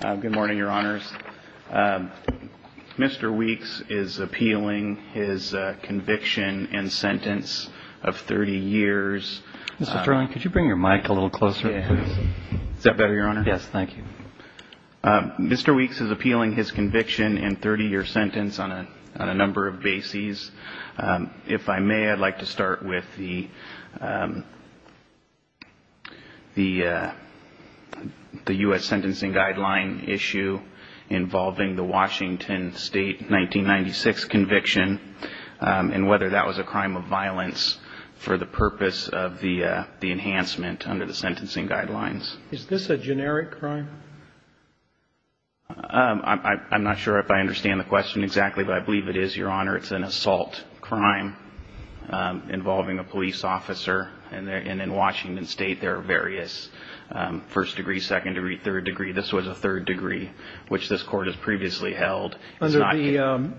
Good morning, Your Honors. Mr. Weicks is appealing his conviction and sentence of 30 years. Mr. Sterling, could you bring your mic a little closer, please? Is that better, Your Honor? Yes, thank you. Mr. Weicks is appealing his conviction and 30-year sentence on a number of bases. If I may, I'd like to start with the U.S. sentencing guideline issue involving the Washington State 1996 conviction and whether that was a crime of violence for the purpose of the enhancement under the sentencing guidelines. Is this a generic crime? I'm not sure if I understand the question exactly, but I believe it is, Your Honor. It's an assault crime involving a police officer. And in Washington State, there are various first degree, second degree, third degree. This was a third degree, which this Court has previously held. Under the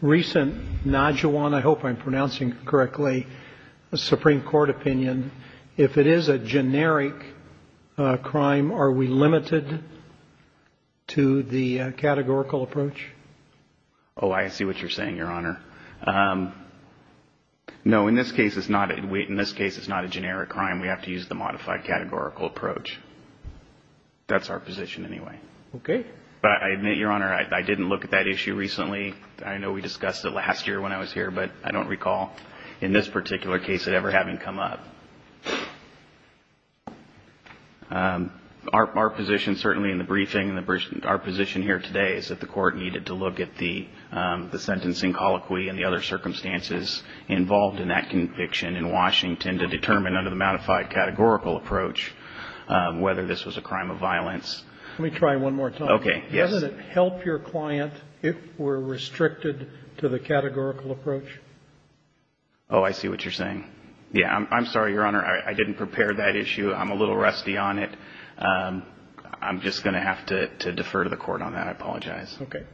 recent Najuan, I hope I'm pronouncing it correctly, Supreme Court opinion, if it is a generic crime, are we limited to the categorical approach? Oh, I see what you're saying, Your Honor. No, in this case, it's not a generic crime. We have to use the modified categorical approach. That's our position anyway. Okay. But I admit, Your Honor, I didn't look at that issue recently. I know we discussed it last year when I was here, but I don't recall in this particular case it ever having come up. Our position certainly in the briefing, our position here today is that the Court needed to look at the sentencing colloquy and the other circumstances involved in that conviction in Washington to determine under the modified categorical approach whether this was a crime of violence. Let me try one more time. Okay. Doesn't it help your client if we're restricted to the categorical approach? Oh, I see what you're saying. Yeah. I'm sorry, Your Honor. I didn't prepare that issue. I'm a little rusty on it. I'm just going to have to defer to the Court on that. I apologize. Okay.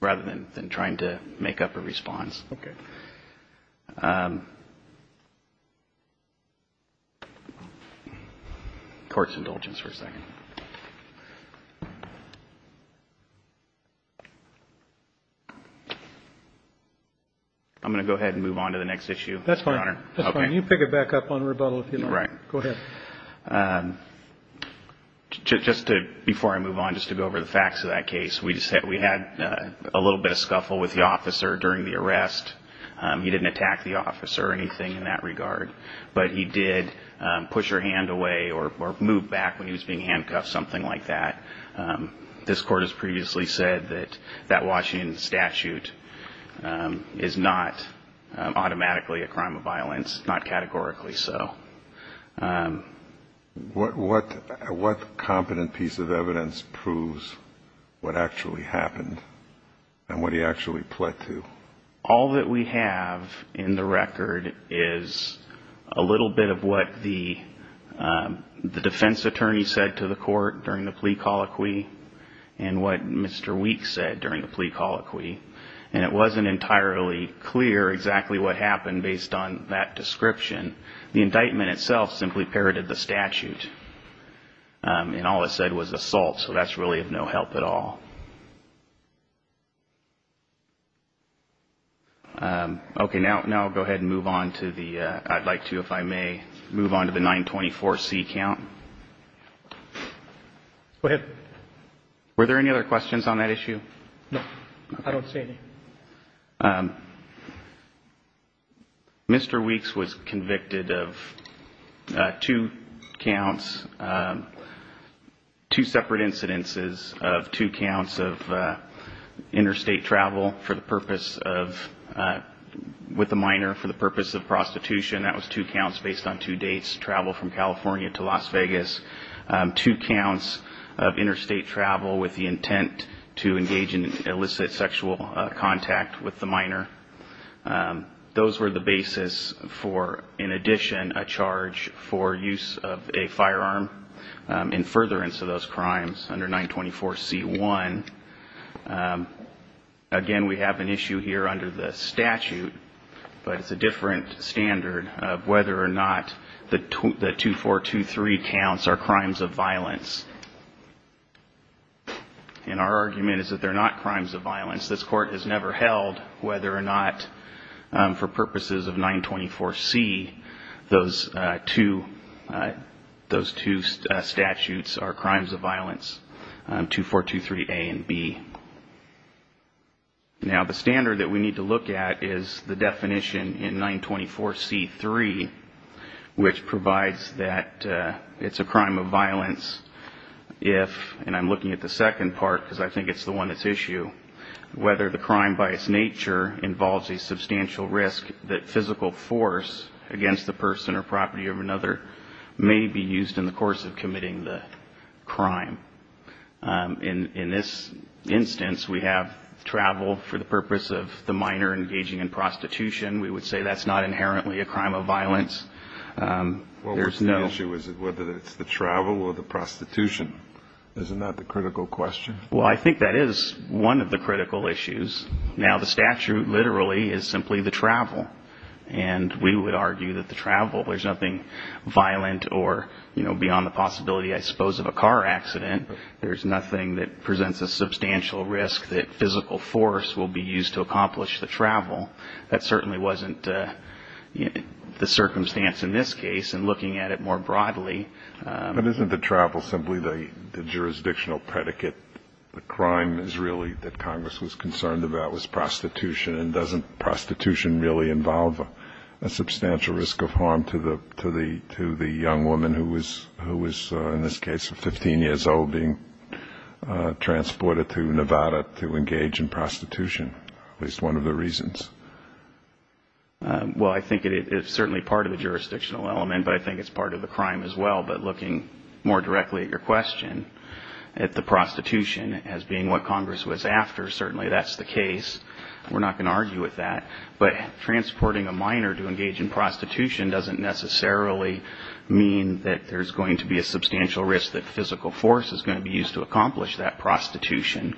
Rather than trying to make up a response. Okay. Court's indulgence for a second. I'm going to go ahead and move on to the next issue, Your Honor. That's fine. That's fine. You can pick it back up on rebuttal if you'd like. All right. Go ahead. Just before I move on, just to go over the facts of that case, we had a little bit of scuffle with the officer during the arrest. He didn't attack the officer or anything in that regard. But he did push her hand away or move back when he was being handcuffed, something like that. This Court has previously said that that Washington statute is not automatically a crime of violence, not categorically so. What competent piece of evidence proves what actually happened and what he actually pled to? All that we have in the record is a little bit of what the defense attorney said to the Court during the plea colloquy and what Mr. Weeks said during the plea colloquy. And it wasn't entirely clear exactly what happened based on that description. The indictment itself simply parroted the statute. And all it said was assault. So that's really of no help at all. Okay. Now I'll go ahead and move on to the – I'd like to, if I may, move on to the 924C count. Go ahead. Were there any other questions on that issue? No. I don't see any. Mr. Weeks was convicted of two counts, two separate incidences of two counts of interstate travel for the purpose of – with a minor for the purpose of prostitution. That was two counts based on two dates, travel from California to Las Vegas. Two counts of interstate travel with the intent to engage in illicit sexual contact with the minor. Those were the basis for, in addition, a charge for use of a firearm in furtherance of those crimes under 924C1. Again, we have an issue here under the statute, but it's a different standard of whether or not the 2423 counts are crimes of violence. And our argument is that they're not crimes of violence. This Court has never held whether or not for purposes of 924C, those two statutes are crimes of violence, 2423A and B. Now, the standard that we need to look at is the definition in 924C3, which provides that it's a crime of violence if – and I'm looking at the second part because I think it's the one that's issue – where the crime by its nature involves a substantial risk that physical force against the person or property of another may be used in the course of committing the crime. In this instance, we have travel for the purpose of the minor engaging in prostitution. We would say that's not inherently a crime of violence. There's no – Well, what's the issue? Is it whether it's the travel or the prostitution? Isn't that the critical question? Well, I think that is one of the critical issues. Now, the statute literally is simply the travel. And we would argue that the travel – there's nothing violent or, you know, beyond the possibility, I suppose, of a car accident. There's nothing that presents a substantial risk that physical force will be used to accomplish the travel. That certainly wasn't the circumstance in this case. And looking at it more broadly – But isn't the travel simply the jurisdictional predicate? The crime is really that Congress was concerned about was prostitution. And doesn't prostitution really involve a substantial risk of harm to the young woman who was, in this case, 15 years old, being transported to Nevada to engage in prostitution, at least one of the reasons? Well, I think it's certainly part of the jurisdictional element, but I think it's part of the crime as well. But looking more directly at your question, at the prostitution as being what Congress was after, certainly that's the case. We're not going to argue with that. But transporting a minor to engage in prostitution doesn't necessarily mean that there's going to be a substantial risk that physical force is going to be used to accomplish that prostitution.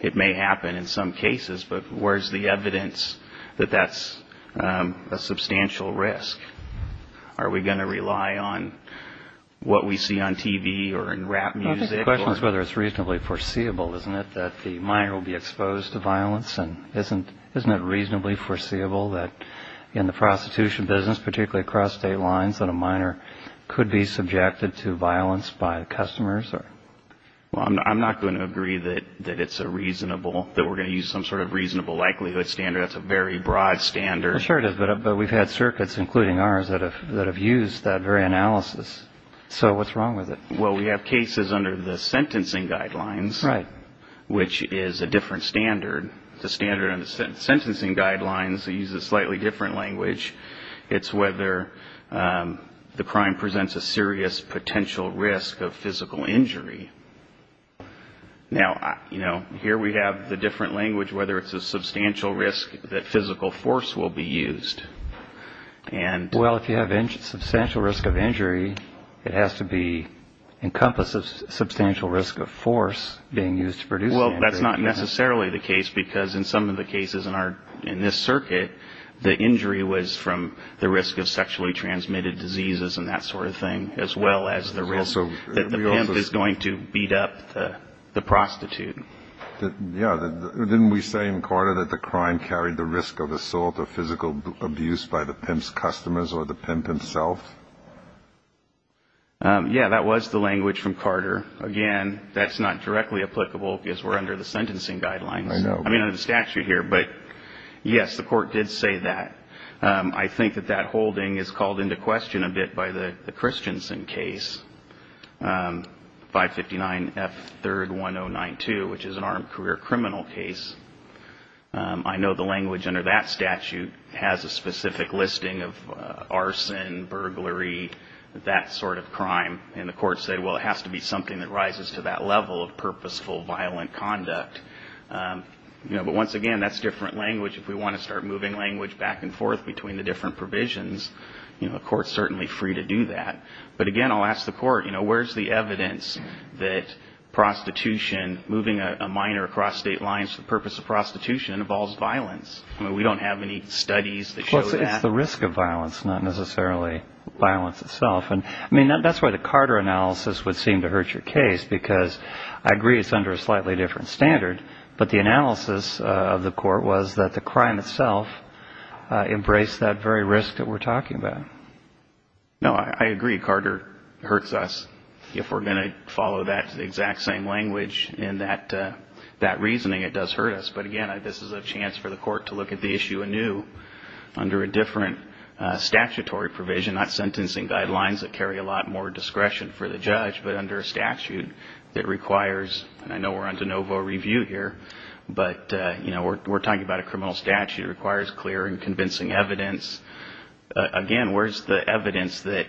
It may happen in some cases, but where's the evidence that that's a substantial risk? Are we going to rely on what we see on TV or in rap music? I think the question is whether it's reasonably foreseeable, isn't it, that the minor will be exposed to violence? And isn't it reasonably foreseeable that in the prostitution business, particularly across state lines, that a minor could be subjected to violence by customers? Well, I'm not going to agree that it's a reasonable – that we're going to use some sort of reasonable likelihood standard. That's a very broad standard. Sure it is, but we've had circuits, including ours, that have used that very analysis. So what's wrong with it? Well, we have cases under the sentencing guidelines, which is a different standard. The standard on the sentencing guidelines uses a slightly different language. It's whether the crime presents a serious potential risk of physical injury. Now, here we have the different language, whether it's a substantial risk that physical force will be used. Well, if you have a substantial risk of injury, it has to encompass a substantial risk of force being used to produce the injury. Well, that's not necessarily the case, because in some of the cases in this circuit, the injury was from the risk of sexually transmitted diseases and that sort of thing, as well as the risk that the pimp is going to beat up the prostitute. Yeah. Didn't we say in Carter that the crime carried the risk of assault or physical abuse by the pimp's customers or the pimp himself? Yeah, that was the language from Carter. Again, that's not directly applicable because we're under the sentencing guidelines. I know. I mean, under the statute here. But, yes, the Court did say that. I think that that holding is called into question a bit by the Christensen case, 559F31092, which is an armed career criminal case. I know the language under that statute has a specific listing of arson, burglary, that sort of crime. And the Court said, well, it has to be something that rises to that level of purposeful violent conduct. But, once again, that's different language. If we want to start moving language back and forth between the different provisions, the Court's certainly free to do that. But, again, I'll ask the Court, you know, where's the evidence that prostitution, moving a minor across state lines for the purpose of prostitution involves violence? I mean, we don't have any studies that show that. Well, it's the risk of violence, not necessarily violence itself. I mean, that's why the Carter analysis would seem to hurt your case, because I agree it's under a slightly different standard. But the analysis of the Court was that the crime itself embraced that very risk that we're talking about. No, I agree. Carter hurts us. If we're going to follow that exact same language in that reasoning, it does hurt us. But, again, this is a chance for the Court to look at the issue anew under a different statutory provision, not sentencing guidelines that carry a lot more discretion for the judge, but under a statute that requires, and I know we're on de novo review here, but, you know, we're talking about a criminal statute. It requires clear and convincing evidence. Again, where's the evidence that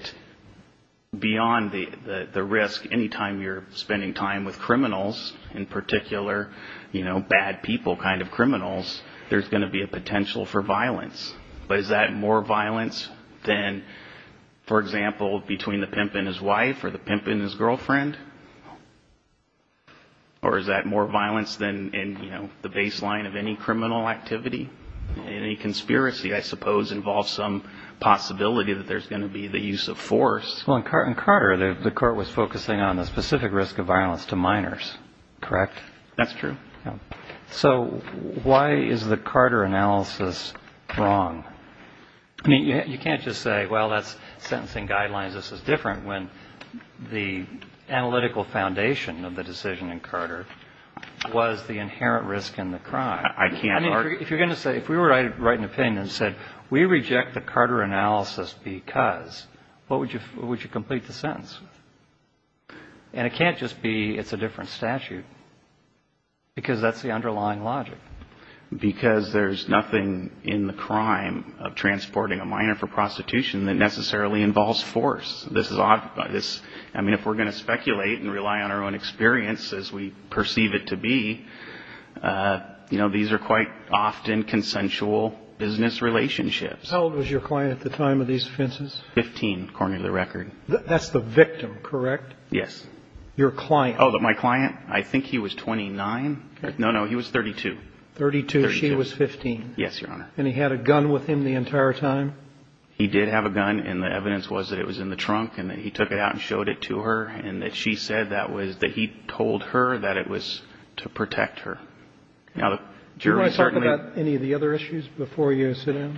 beyond the risk, anytime you're spending time with criminals, in particular, you know, bad people kind of criminals, there's going to be a potential for violence. But is that more violence than, for example, between the pimp and his wife or the pimp and his girlfriend? Or is that more violence than in, you know, the baseline of any criminal activity? Any conspiracy, I suppose, involves some possibility that there's going to be the use of force. Well, in Carter, the Court was focusing on the specific risk of violence to minors, correct? That's true. So why is the Carter analysis wrong? I mean, you can't just say, well, that's sentencing guidelines. This is different, when the analytical foundation of the decision in Carter was the inherent risk in the crime. I can't argue. I mean, if you're going to say, if we were to write an opinion that said we reject the Carter analysis because, what would you complete the sentence? And it can't just be it's a different statute because that's the underlying logic. Because there's nothing in the crime of transporting a minor for prostitution that necessarily involves force. This is odd. I mean, if we're going to speculate and rely on our own experience as we perceive it to be, you know, these are quite often consensual business relationships. How old was your client at the time of these offenses? Fifteen, according to the record. That's the victim, correct? Yes. Your client. Oh, my client. I think he was 29. No, no, he was 32. 32. She was 15. Yes, Your Honor. And he had a gun with him the entire time? He did have a gun. And the evidence was that it was in the trunk and that he took it out and showed it to her and that she said that he told her that it was to protect her. Do you want to talk about any of the other issues before you sit down?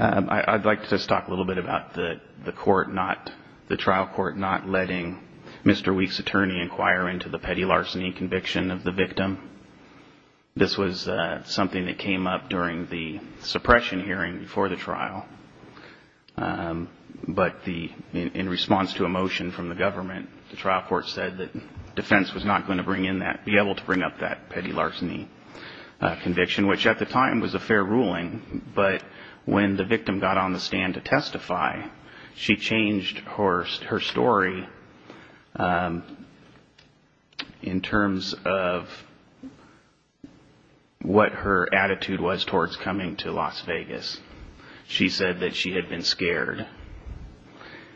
I'd like to just talk a little bit about the court not, the trial court not letting Mr. Weeks' attorney inquire into the petty larceny conviction of the victim. This was something that came up during the suppression hearing before the trial. But in response to a motion from the government, the trial court said that defense was not going to bring in that, be able to bring up that petty larceny conviction, which at the time was a fair ruling. But when the victim got on the stand to testify, she changed her story in terms of what her attitude was towards coming to Las Vegas. She said that she had been scared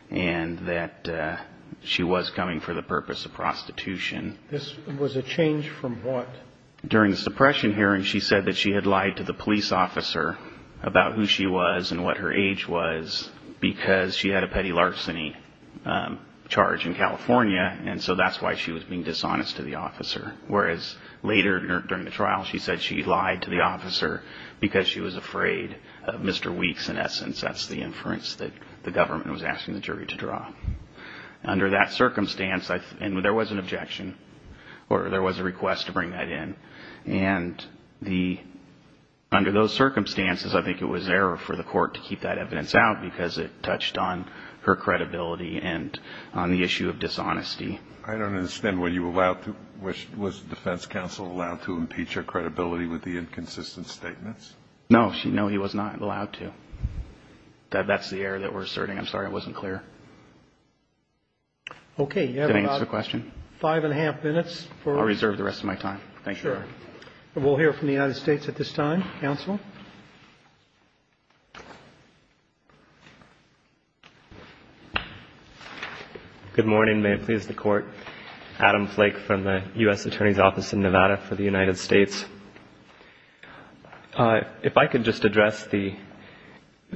and that she was coming for the purpose of prostitution. This was a change from what? During the suppression hearing, she said that she had lied to the police officer about who she was and what her age was because she had a petty larceny charge in California. And so that's why she was being dishonest to the officer. Whereas later during the trial, she said she lied to the officer because she was afraid of Mr. Weeks. In essence, that's the inference that the government was asking the jury to draw. Under that circumstance, and there was an objection, or there was a request to bring that in. And under those circumstances, I think it was an error for the court to keep that evidence out because it touched on her credibility and on the issue of dishonesty. I don't understand. Were you allowed to, was the defense counsel allowed to impeach her credibility with the inconsistent statements? No, he was not allowed to. That's the error that we're asserting. I'm sorry, I wasn't clear. Okay. Did I answer the question? Five and a half minutes. I'll reserve the rest of my time. Thank you. Sure. We'll hear from the United States at this time. Counsel. Good morning. May it please the Court. Adam Flake from the U.S. Attorney's Office in Nevada for the United States. If I could just address the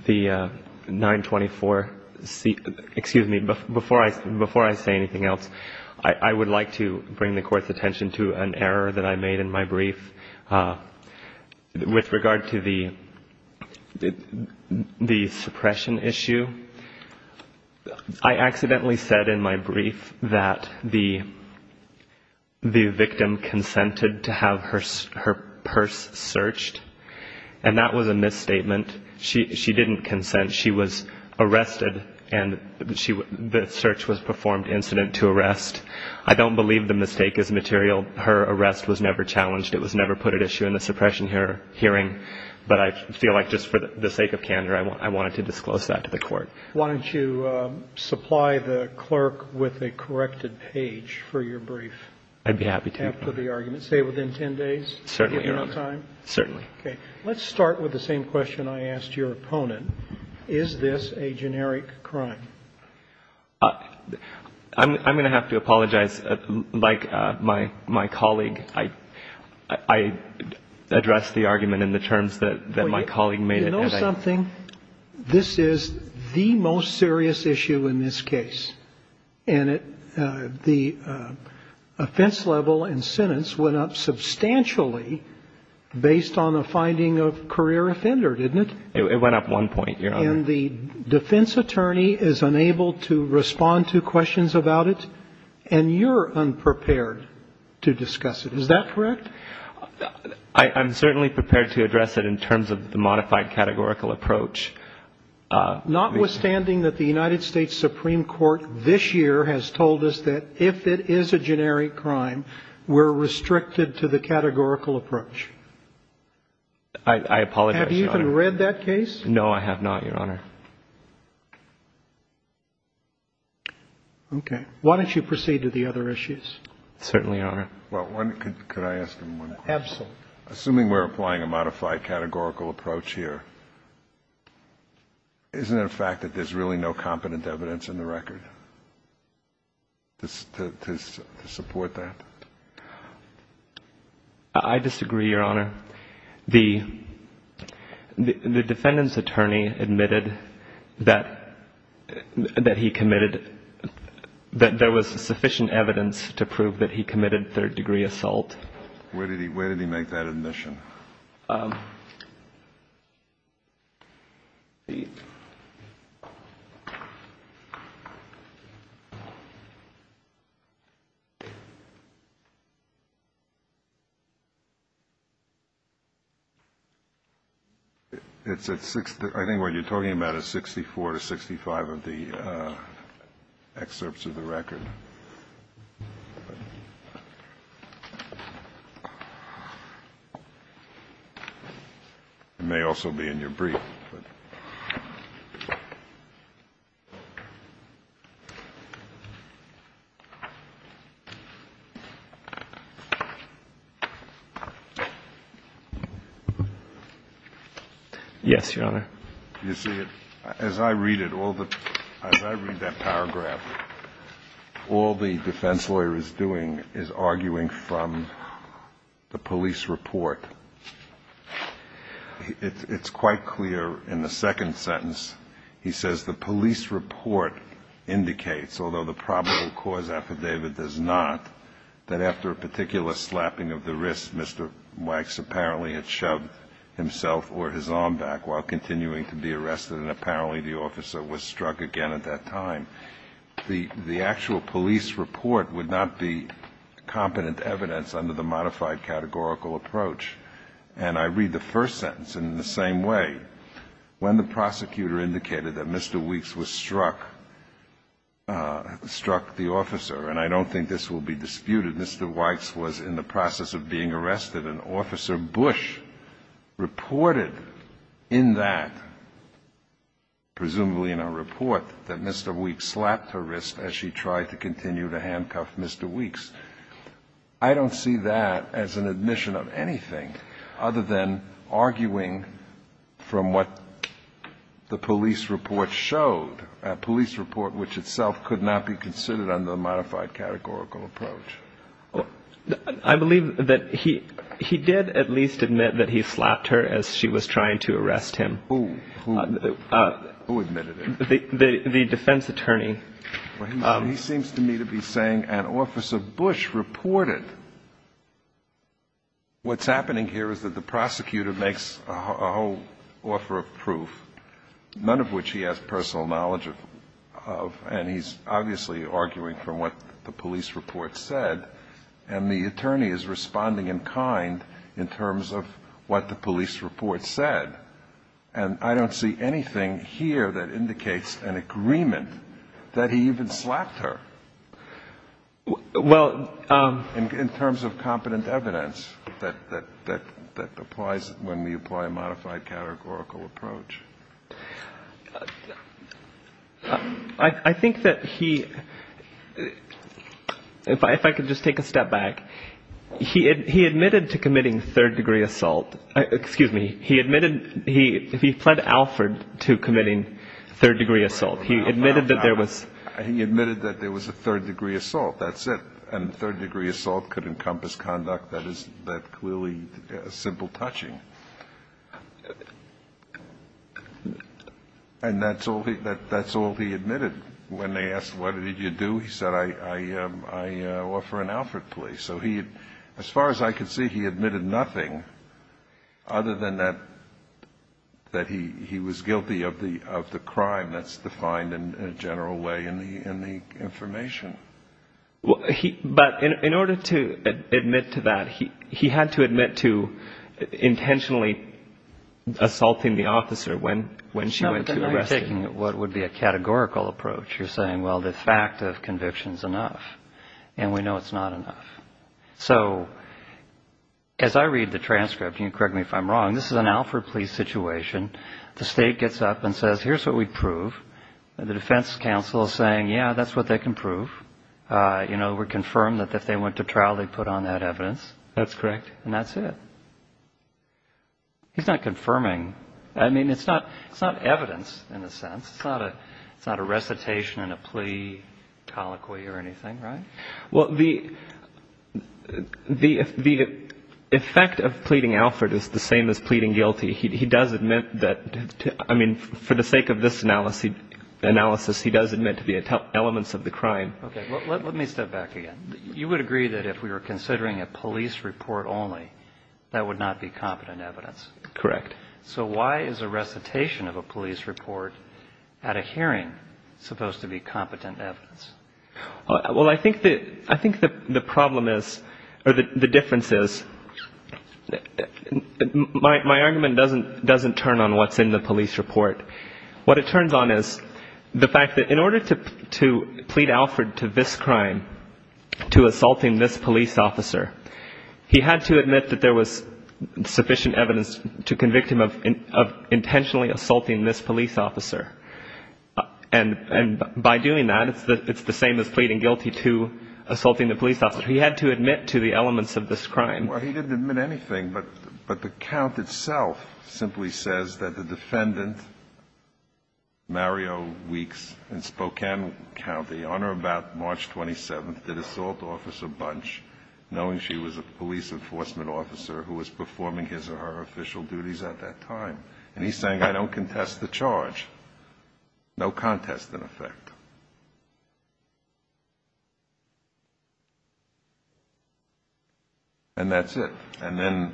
924, excuse me, before I say anything else, I would like to bring the Court's attention to an error that I made in my brief with regard to the suppression issue. I accidentally said in my brief that the victim consented to have her purse searched, and that was a misstatement. She didn't consent. She was arrested, and the search was performed incident to arrest. I don't believe the mistake is material. Her arrest was never challenged. It was never put at issue in the suppression hearing. But I feel like just for the sake of candor, I wanted to disclose that to the Court. Why don't you supply the clerk with a corrected page for your brief? I'd be happy to. After the argument, say within 10 days? Certainly, Your Honor. Do you have enough time? Certainly. Okay. Let's start with the same question I asked your opponent. Is this a generic crime? I'm going to have to apologize. Like my colleague, I addressed the argument in the terms that my colleague made. You know something? This is the most serious issue in this case. And the offense level and sentence went up substantially based on the finding of career offender, didn't it? It went up one point, Your Honor. And the defense attorney is unable to respond to questions about it. And you're unprepared to discuss it. Is that correct? I'm certainly prepared to address it in terms of the modified categorical approach. Notwithstanding that the United States Supreme Court this year has told us that if it is a generic crime, we're restricted to the categorical approach. I apologize, Your Honor. Have you even read that case? No, I have not, Your Honor. Okay. Why don't you proceed to the other issues? Certainly, Your Honor. Well, could I ask him one question? Absolutely. Assuming we're applying a modified categorical approach here, isn't it a fact that there's really no competent evidence in the record to support that? I disagree, Your Honor. The defendant's attorney admitted that he committed – that there was sufficient evidence to prove that he committed third-degree assault. Where did he make that admission? It's at – I think what you're talking about is 64 to 65 of the excerpts of the record. It may also be in your brief, but – Yes, Your Honor. You see, as I read it, all the – as I read that paragraph, all the defense lawyer is doing is arguing from the police report. It's quite clear in the second sentence. He says, although the probable cause affidavit does not, that after a particular slapping of the wrist, Mr. Wax apparently had shoved himself or his arm back while continuing to be arrested, and apparently the officer was struck again at that time. The actual police report would not be competent evidence under the modified categorical approach. And I read the first sentence in the same way. When the prosecutor indicated that Mr. Weeks was struck – struck the officer, and I don't think this will be disputed, Mr. Wax was in the process of being arrested, and Officer Bush reported in that, presumably in a report, that Mr. Weeks slapped her wrist as she tried to continue to handcuff Mr. Weeks. I don't see that as an admission of anything other than arguing from what the police report showed, a police report which itself could not be considered under the modified categorical approach. I believe that he – he did at least admit that he slapped her as she was trying to arrest him. Who? Who admitted it? The defense attorney. Well, he seems to me to be saying, and Officer Bush reported, what's happening here is that the prosecutor makes a whole offer of proof, none of which he has personal knowledge of, and he's obviously arguing from what the police report said, and the attorney is responding in kind in terms of what the police report said. And I don't see anything here that indicates an agreement that he even slapped her. Well – In terms of competent evidence that applies when we apply a modified categorical approach. I think that he – if I could just take a step back. He admitted to committing third-degree assault. Excuse me. He admitted – he fled Alfred to committing third-degree assault. He admitted that there was – He admitted that there was a third-degree assault. That's it. And third-degree assault could encompass conduct that is clearly simple touching. And that's all he admitted. When they asked, what did you do, he said, I offer an Alfred plea. So he – as far as I could see, he admitted nothing other than that he was guilty of the crime. That's defined in a general way in the information. But in order to admit to that, he had to admit to intentionally assaulting the officer when she went to arrest him. No, but then now you're taking what would be a categorical approach. You're saying, well, the fact of conviction is enough. And we know it's not enough. So as I read the transcript, and correct me if I'm wrong, this is an Alfred plea situation. The state gets up and says, here's what we prove. The defense counsel is saying, yeah, that's what they can prove. You know, we're confirmed that if they went to trial, they put on that evidence. That's correct. And that's it. He's not confirming. I mean, it's not – it's not evidence in a sense. It's not a recitation in a plea colloquy or anything, right? Well, the effect of pleading Alfred is the same as pleading guilty. He does admit that – I mean, for the sake of this analysis, he does admit to the elements of the crime. Okay. Let me step back again. You would agree that if we were considering a police report only, that would not be competent evidence. Correct. So why is a recitation of a police report at a hearing supposed to be competent evidence? Well, I think the – I think the problem is – or the difference is – my argument doesn't turn on what's in the police report. What it turns on is the fact that in order to plead Alfred to this crime, to assaulting this police officer, he had to admit that there was sufficient evidence to convict him of intentionally assaulting this police officer. And by doing that, it's the same as pleading guilty to assaulting the police officer. He had to admit to the elements of this crime. Well, he didn't admit anything, but the count itself simply says that the defendant, Mario Weeks, in Spokane County, on or about March 27th, did assault Officer Bunch, knowing she was a police enforcement officer who was performing his or her official duties at that time. And he's saying, I don't contest the charge. No contest, in effect. And that's it. And then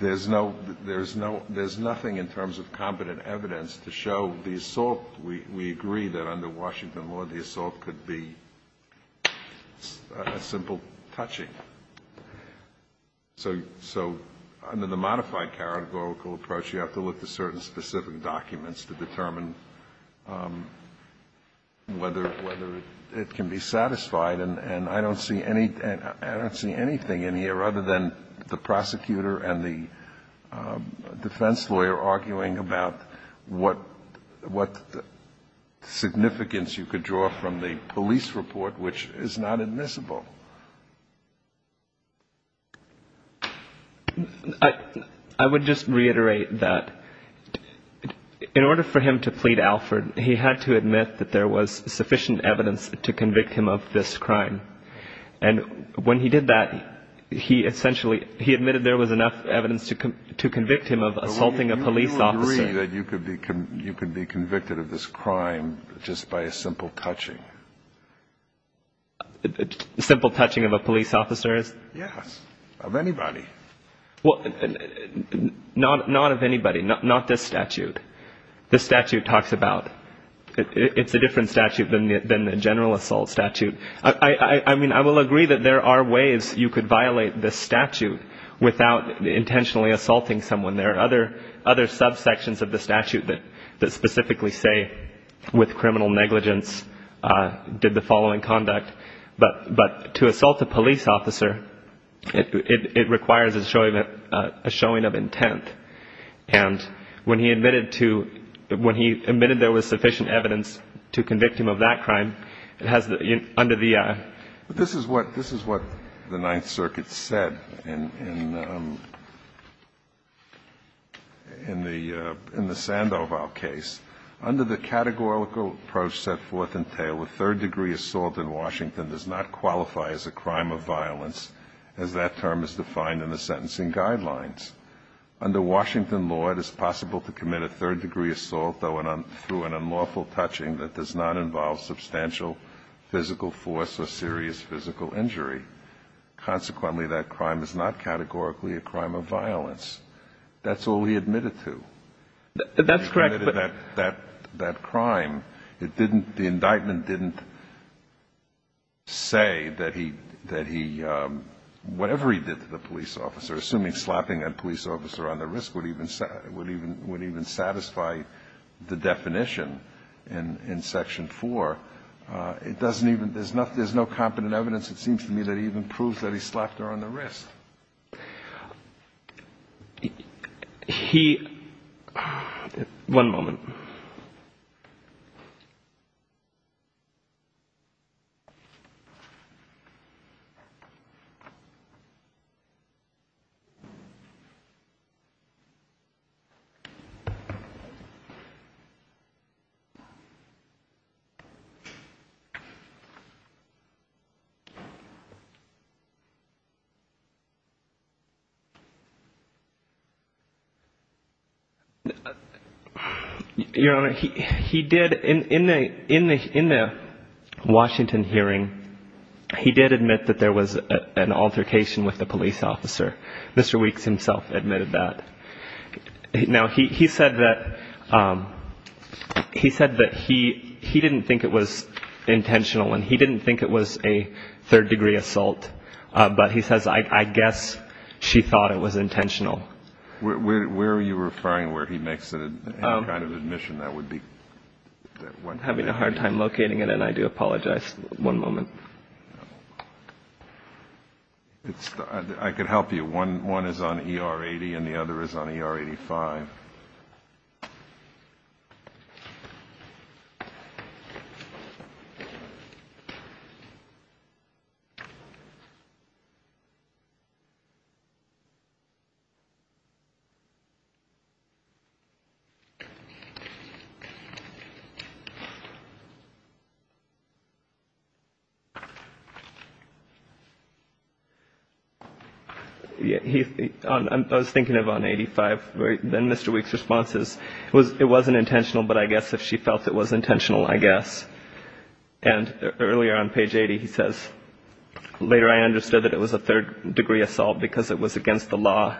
there's no – there's nothing in terms of competent evidence to show the assault. We agree that under Washington law, the assault could be a simple touching. So under the modified categorical approach, you have to look to certain specific documents to determine whether it can be satisfied. And I don't see anything in here other than the prosecutor and the defense lawyer arguing about what significance you could draw from the police report, which is not admissible. I would just reiterate that in order for him to plead Alford, he had to admit that there was sufficient evidence to convict him of this crime. And when he did that, he essentially – he admitted there was enough evidence to convict him of assaulting a police officer. You agree that you could be convicted of this crime just by a simple touching? A simple touching of a police officer is? Yes, of anybody. Well, not of anybody, not this statute. This statute talks about – it's a different statute than the general assault statute. I mean, I will agree that there are ways you could violate this statute without intentionally assaulting someone. There are other subsections of the statute that specifically say, with criminal negligence, did the following conduct. But to assault a police officer, it requires a showing of intent. And when he admitted to – when he admitted there was sufficient evidence to convict him of that crime, it has – under the – But this is what – this is what the Ninth Circuit said in the – in the Sandoval case. Under the categorical approach set forth in Taylor, third-degree assault in Washington does not qualify as a crime of violence, as that term is defined in the sentencing guidelines. Under Washington law, it is possible to commit a third-degree assault, though through an unlawful touching, that does not involve substantial physical force or serious physical injury. Consequently, that crime is not categorically a crime of violence. That's all he admitted to. That's correct, but – But the fact that he slapped a police officer on the wrist would even – would even satisfy the definition in section 4. It doesn't even – there's not – there's no competent evidence, it seems to me, that even proves that he slapped her on the wrist. He – one moment. Your Honor, he did – in the – in the Washington hearing, he did admit that there was an altercation with the police officer. Mr. Weeks himself admitted that. Now, he said that – he said that he – he didn't think it was intentional and he didn't think it was a third-degree assault, but he says, I guess she thought it was intentional. Where are you referring where he makes that kind of admission? That would be – I'm having a hard time locating it, and I do apologize. One moment. It's – I could help you. One is on ER 80 and the other is on ER 85. He – I was thinking of on 85. Then Mr. Weeks' response is, it wasn't intentional, but I guess if she felt it was intentional, I guess. And earlier on page 80, he says, later I understood that it was a third-degree assault because it was against the law.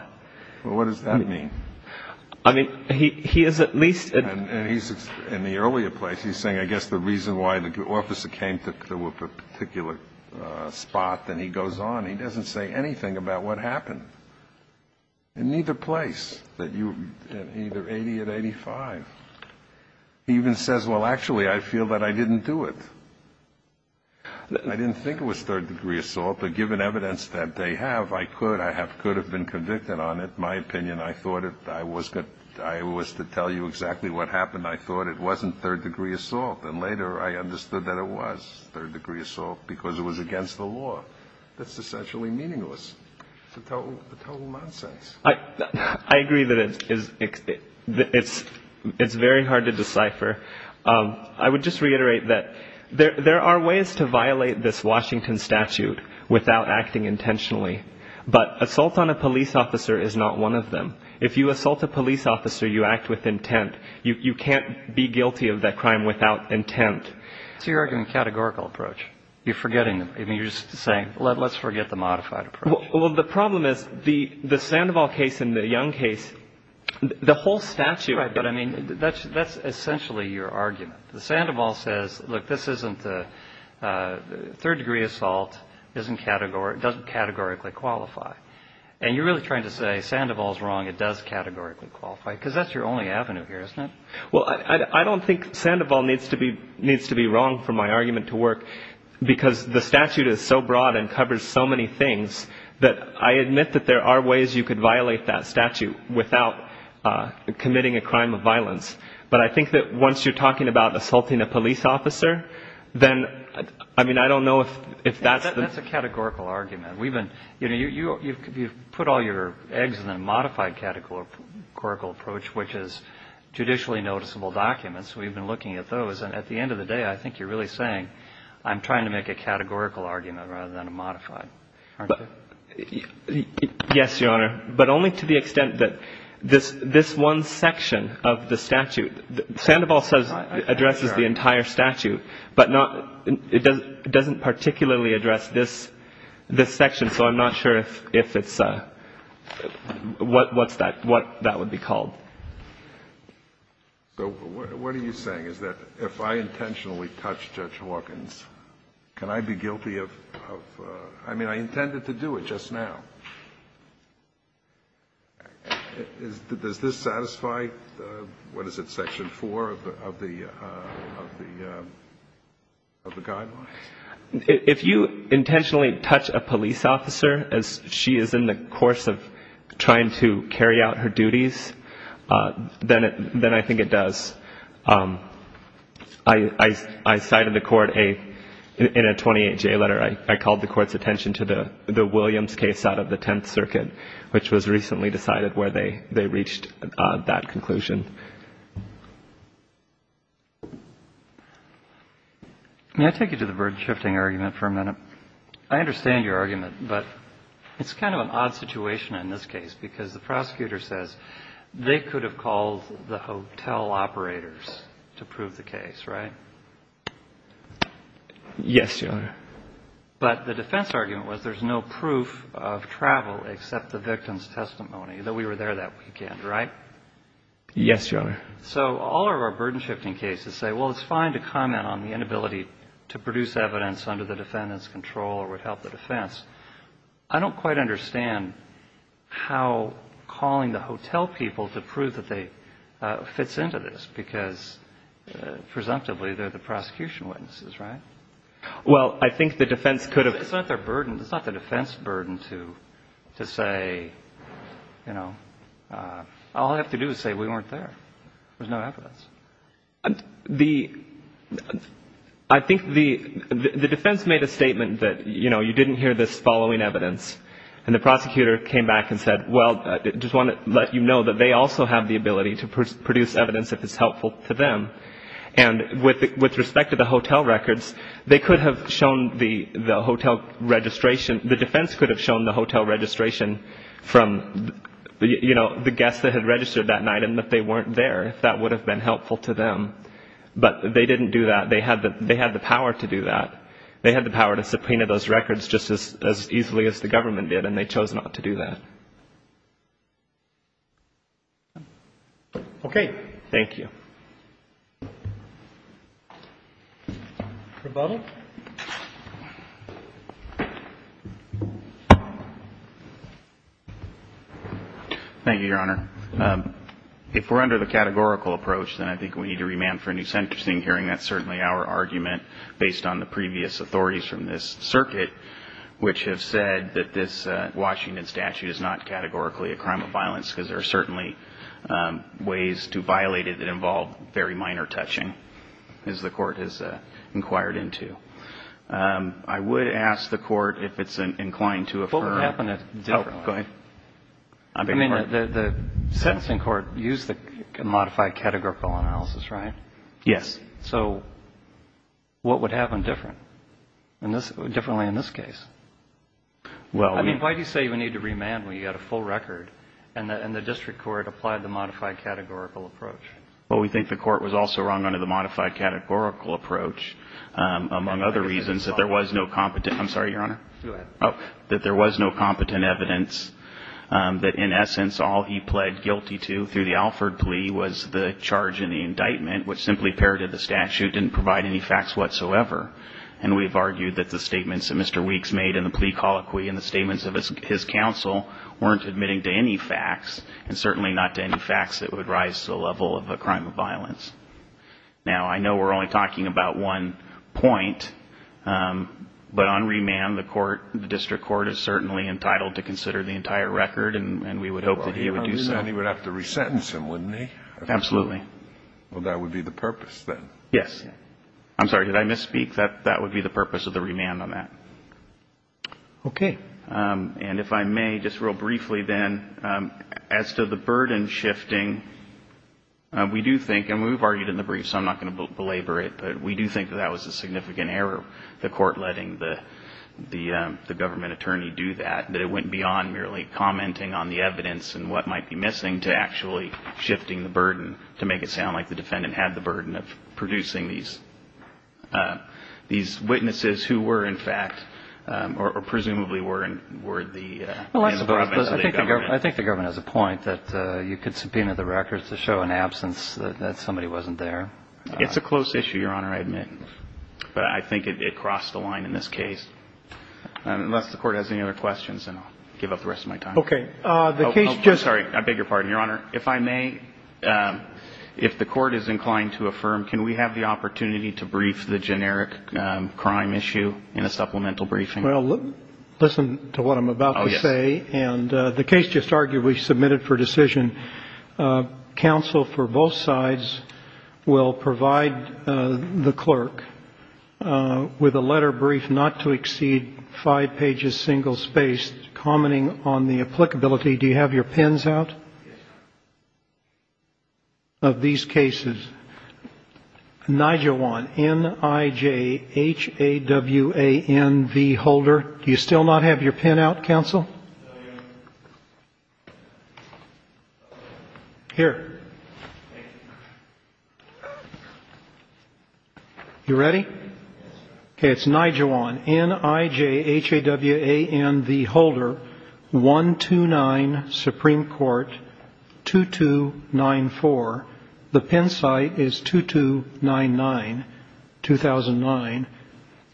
Well, what does that mean? I mean, he is at least – And he's – in the earlier place, he's saying, I guess the reason why the officer came to a particular spot, then he goes on, he doesn't say anything about what happened. In neither place, that you – either 80 or 85. He even says, well, actually, I feel that I didn't do it. I didn't think it was third-degree assault, but given evidence that they have, I could – I could have been convicted on it. In my opinion, I thought it – I was to tell you exactly what happened. I thought it wasn't third-degree assault. And later, I understood that it was third-degree assault because it was against the law. That's essentially meaningless. It's a total nonsense. I agree that it's very hard to decipher. I would just reiterate that there are ways to violate this Washington statute without acting intentionally. But assault on a police officer is not one of them. If you assault a police officer, you act with intent. You can't be guilty of that crime without intent. So you're arguing a categorical approach. You're forgetting – I mean, you're just saying, let's forget the modified approach. Well, the problem is the Sandoval case and the Young case, the whole statute – Right, but I mean, that's essentially your argument. The Sandoval says, look, this isn't – third-degree assault doesn't categorically qualify. And you're really trying to say Sandoval's wrong, it does categorically qualify, because that's your only avenue here, isn't it? Well, I don't think Sandoval needs to be wrong for my argument to work because the statute is so broad and covers so many things that I admit that there are ways you could violate that statute without committing a crime of violence. But I think that once you're talking about assaulting a police officer, then – I mean, I don't know if that's the – That's a categorical argument. We've been – you know, you've put all your eggs in a modified categorical approach, which is judicially noticeable documents. We've been looking at those. And at the end of the day, I think you're really saying I'm trying to make a categorical argument rather than a modified, aren't I? Yes, Your Honor. But only to the extent that this one section of the statute – Sandoval addresses the entire statute, but not – it doesn't particularly address this section, so I'm not sure if it's – what's that? What that would be called. So what are you saying, is that if I intentionally touch Judge Hawkins, can I be guilty of – I mean, I intended to do it. I can do it just now. Does this satisfy – what is it, Section 4 of the Guidelines? If you intentionally touch a police officer as she is in the course of trying to carry out her duties, then I think it does. I cited the Court in a 28-J letter. I called the Court's attention to the Williams case out of the Tenth Circuit, which was recently decided where they reached that conclusion. May I take you to the burden-shifting argument for a minute? I understand your argument, but it's kind of an odd situation in this case because the prosecutor says they could have called the hotel operators to prove the case, right? Yes, Your Honor. But the defense argument was there's no proof of travel except the victim's testimony, that we were there that weekend, right? Yes, Your Honor. So all of our burden-shifting cases say, well, it's fine to comment on the inability to produce evidence under the defendant's control or would help the defense. I don't quite understand how calling the hotel people to prove that they fits into this because, presumptively, they're the prosecution witnesses, right? Well, I think the defense could have – it's not their burden. It's not the defense burden to say, you know, all I have to do is say we weren't there. There's no evidence. The – I think the defense made a statement that, you know, you didn't hear this following evidence, and the prosecutor came back and said, well, I just want to let you know that they also have the ability to produce evidence if it's helpful to them. And with respect to the hotel records, they could have shown the hotel registration – the defense could have shown the hotel registration from, you know, the guests that had registered that night and that they weren't there if that would have been helpful to them. But they didn't do that. They had the power to do that. They had the power to subpoena those records just as easily as the government did, and they chose not to do that. Okay. Thank you. Rebuttal. Thank you, Your Honor. If we're under the categorical approach, then I think we need to remand for a new sentencing hearing. That's certainly our argument based on the previous authorities from this circuit, which have said that this Washington statute is not categorically a crime of violence because there are certainly ways to violate it that involve very minor touching, as the Court has inquired into. I would ask the Court if it's inclined to affirm – What would happen differently? Oh, go ahead. I mean, the sentencing court used the modified categorical analysis, right? Yes. So what would happen differently in this case? I mean, why do you say we need to remand when you've got a full record and the district court applied the modified categorical approach? Well, we think the Court was also wrong under the modified categorical approach, among other reasons, that there was no competent – I'm sorry, Your Honor? Go ahead. Oh, that there was no competent evidence, that in essence all he pled guilty to through the Alford plea was the charge in the indictment, which simply parroted the statute, didn't provide any facts whatsoever. And we've argued that the statements that Mr. Weeks made in the plea colloquy and the statements of his counsel weren't admitting to any facts, and certainly not to any facts that would rise to the level of a crime of violence. Now, I know we're only talking about one point, but on remand the court – the district court is certainly entitled to consider the entire record, and we would hope that he would do so. Well, he would have to resentence him, wouldn't he? Absolutely. Well, that would be the purpose then. Yes. I'm sorry, did I misspeak? That would be the purpose of the remand on that. Okay. And if I may, just real briefly then, as to the burden shifting, we do think – and we've argued in the brief, so I'm not going to belabor it – but we do think that that was a significant error, the court letting the government attorney do that, that it went beyond merely commenting on the evidence and what might be missing to actually shifting the burden to make it sound like the defendant had the burden of producing these witnesses who were, in fact, or presumably were the hands of the government. I think the government has a point that you could subpoena the records to show an absence, that somebody wasn't there. It's a close issue, Your Honor, I admit, but I think it crossed the line in this case. Unless the court has any other questions, then I'll give up the rest of my time. Okay. I'm sorry, I beg your pardon, Your Honor. Your Honor, if I may, if the court is inclined to affirm, can we have the opportunity to brief the generic crime issue in a supplemental briefing? Well, listen to what I'm about to say. Oh, yes. And the case just arguably submitted for decision. Counsel for both sides will provide the clerk with a letter brief not to exceed five pages, single-spaced, commenting on the applicability. Do you have your pens out of these cases? Nijawan, N-I-J-H-A-W-A-N-V, holder. Do you still not have your pen out, counsel? No, Your Honor. Here. Thank you. You ready? Yes, sir. Okay. It's Nijawan, N-I-J-H-A-W-A-N-V, holder, 129 Supreme Court, 2294. The pen site is 2299, 2009,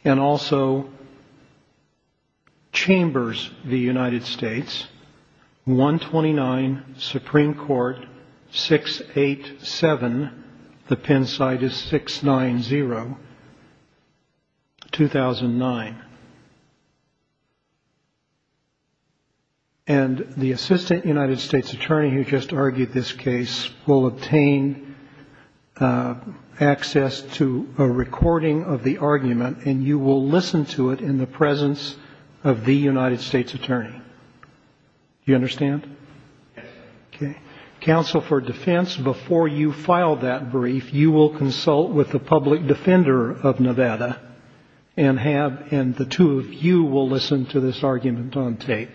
and also Chambers v. United States, 129 Supreme Court, 687. The pen site is 690, 2009. And the assistant United States attorney who just argued this case will obtain access to a recording of the argument, and you will listen to it in the presence of the United States attorney. Do you understand? Yes. Okay. Counsel for defense, before you file that brief, you will consult with the public defender of Nevada and the two of you will listen to this argument on tape.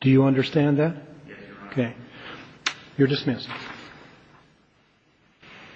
Do you understand that? Yes, Your Honor. Okay. You're dismissed.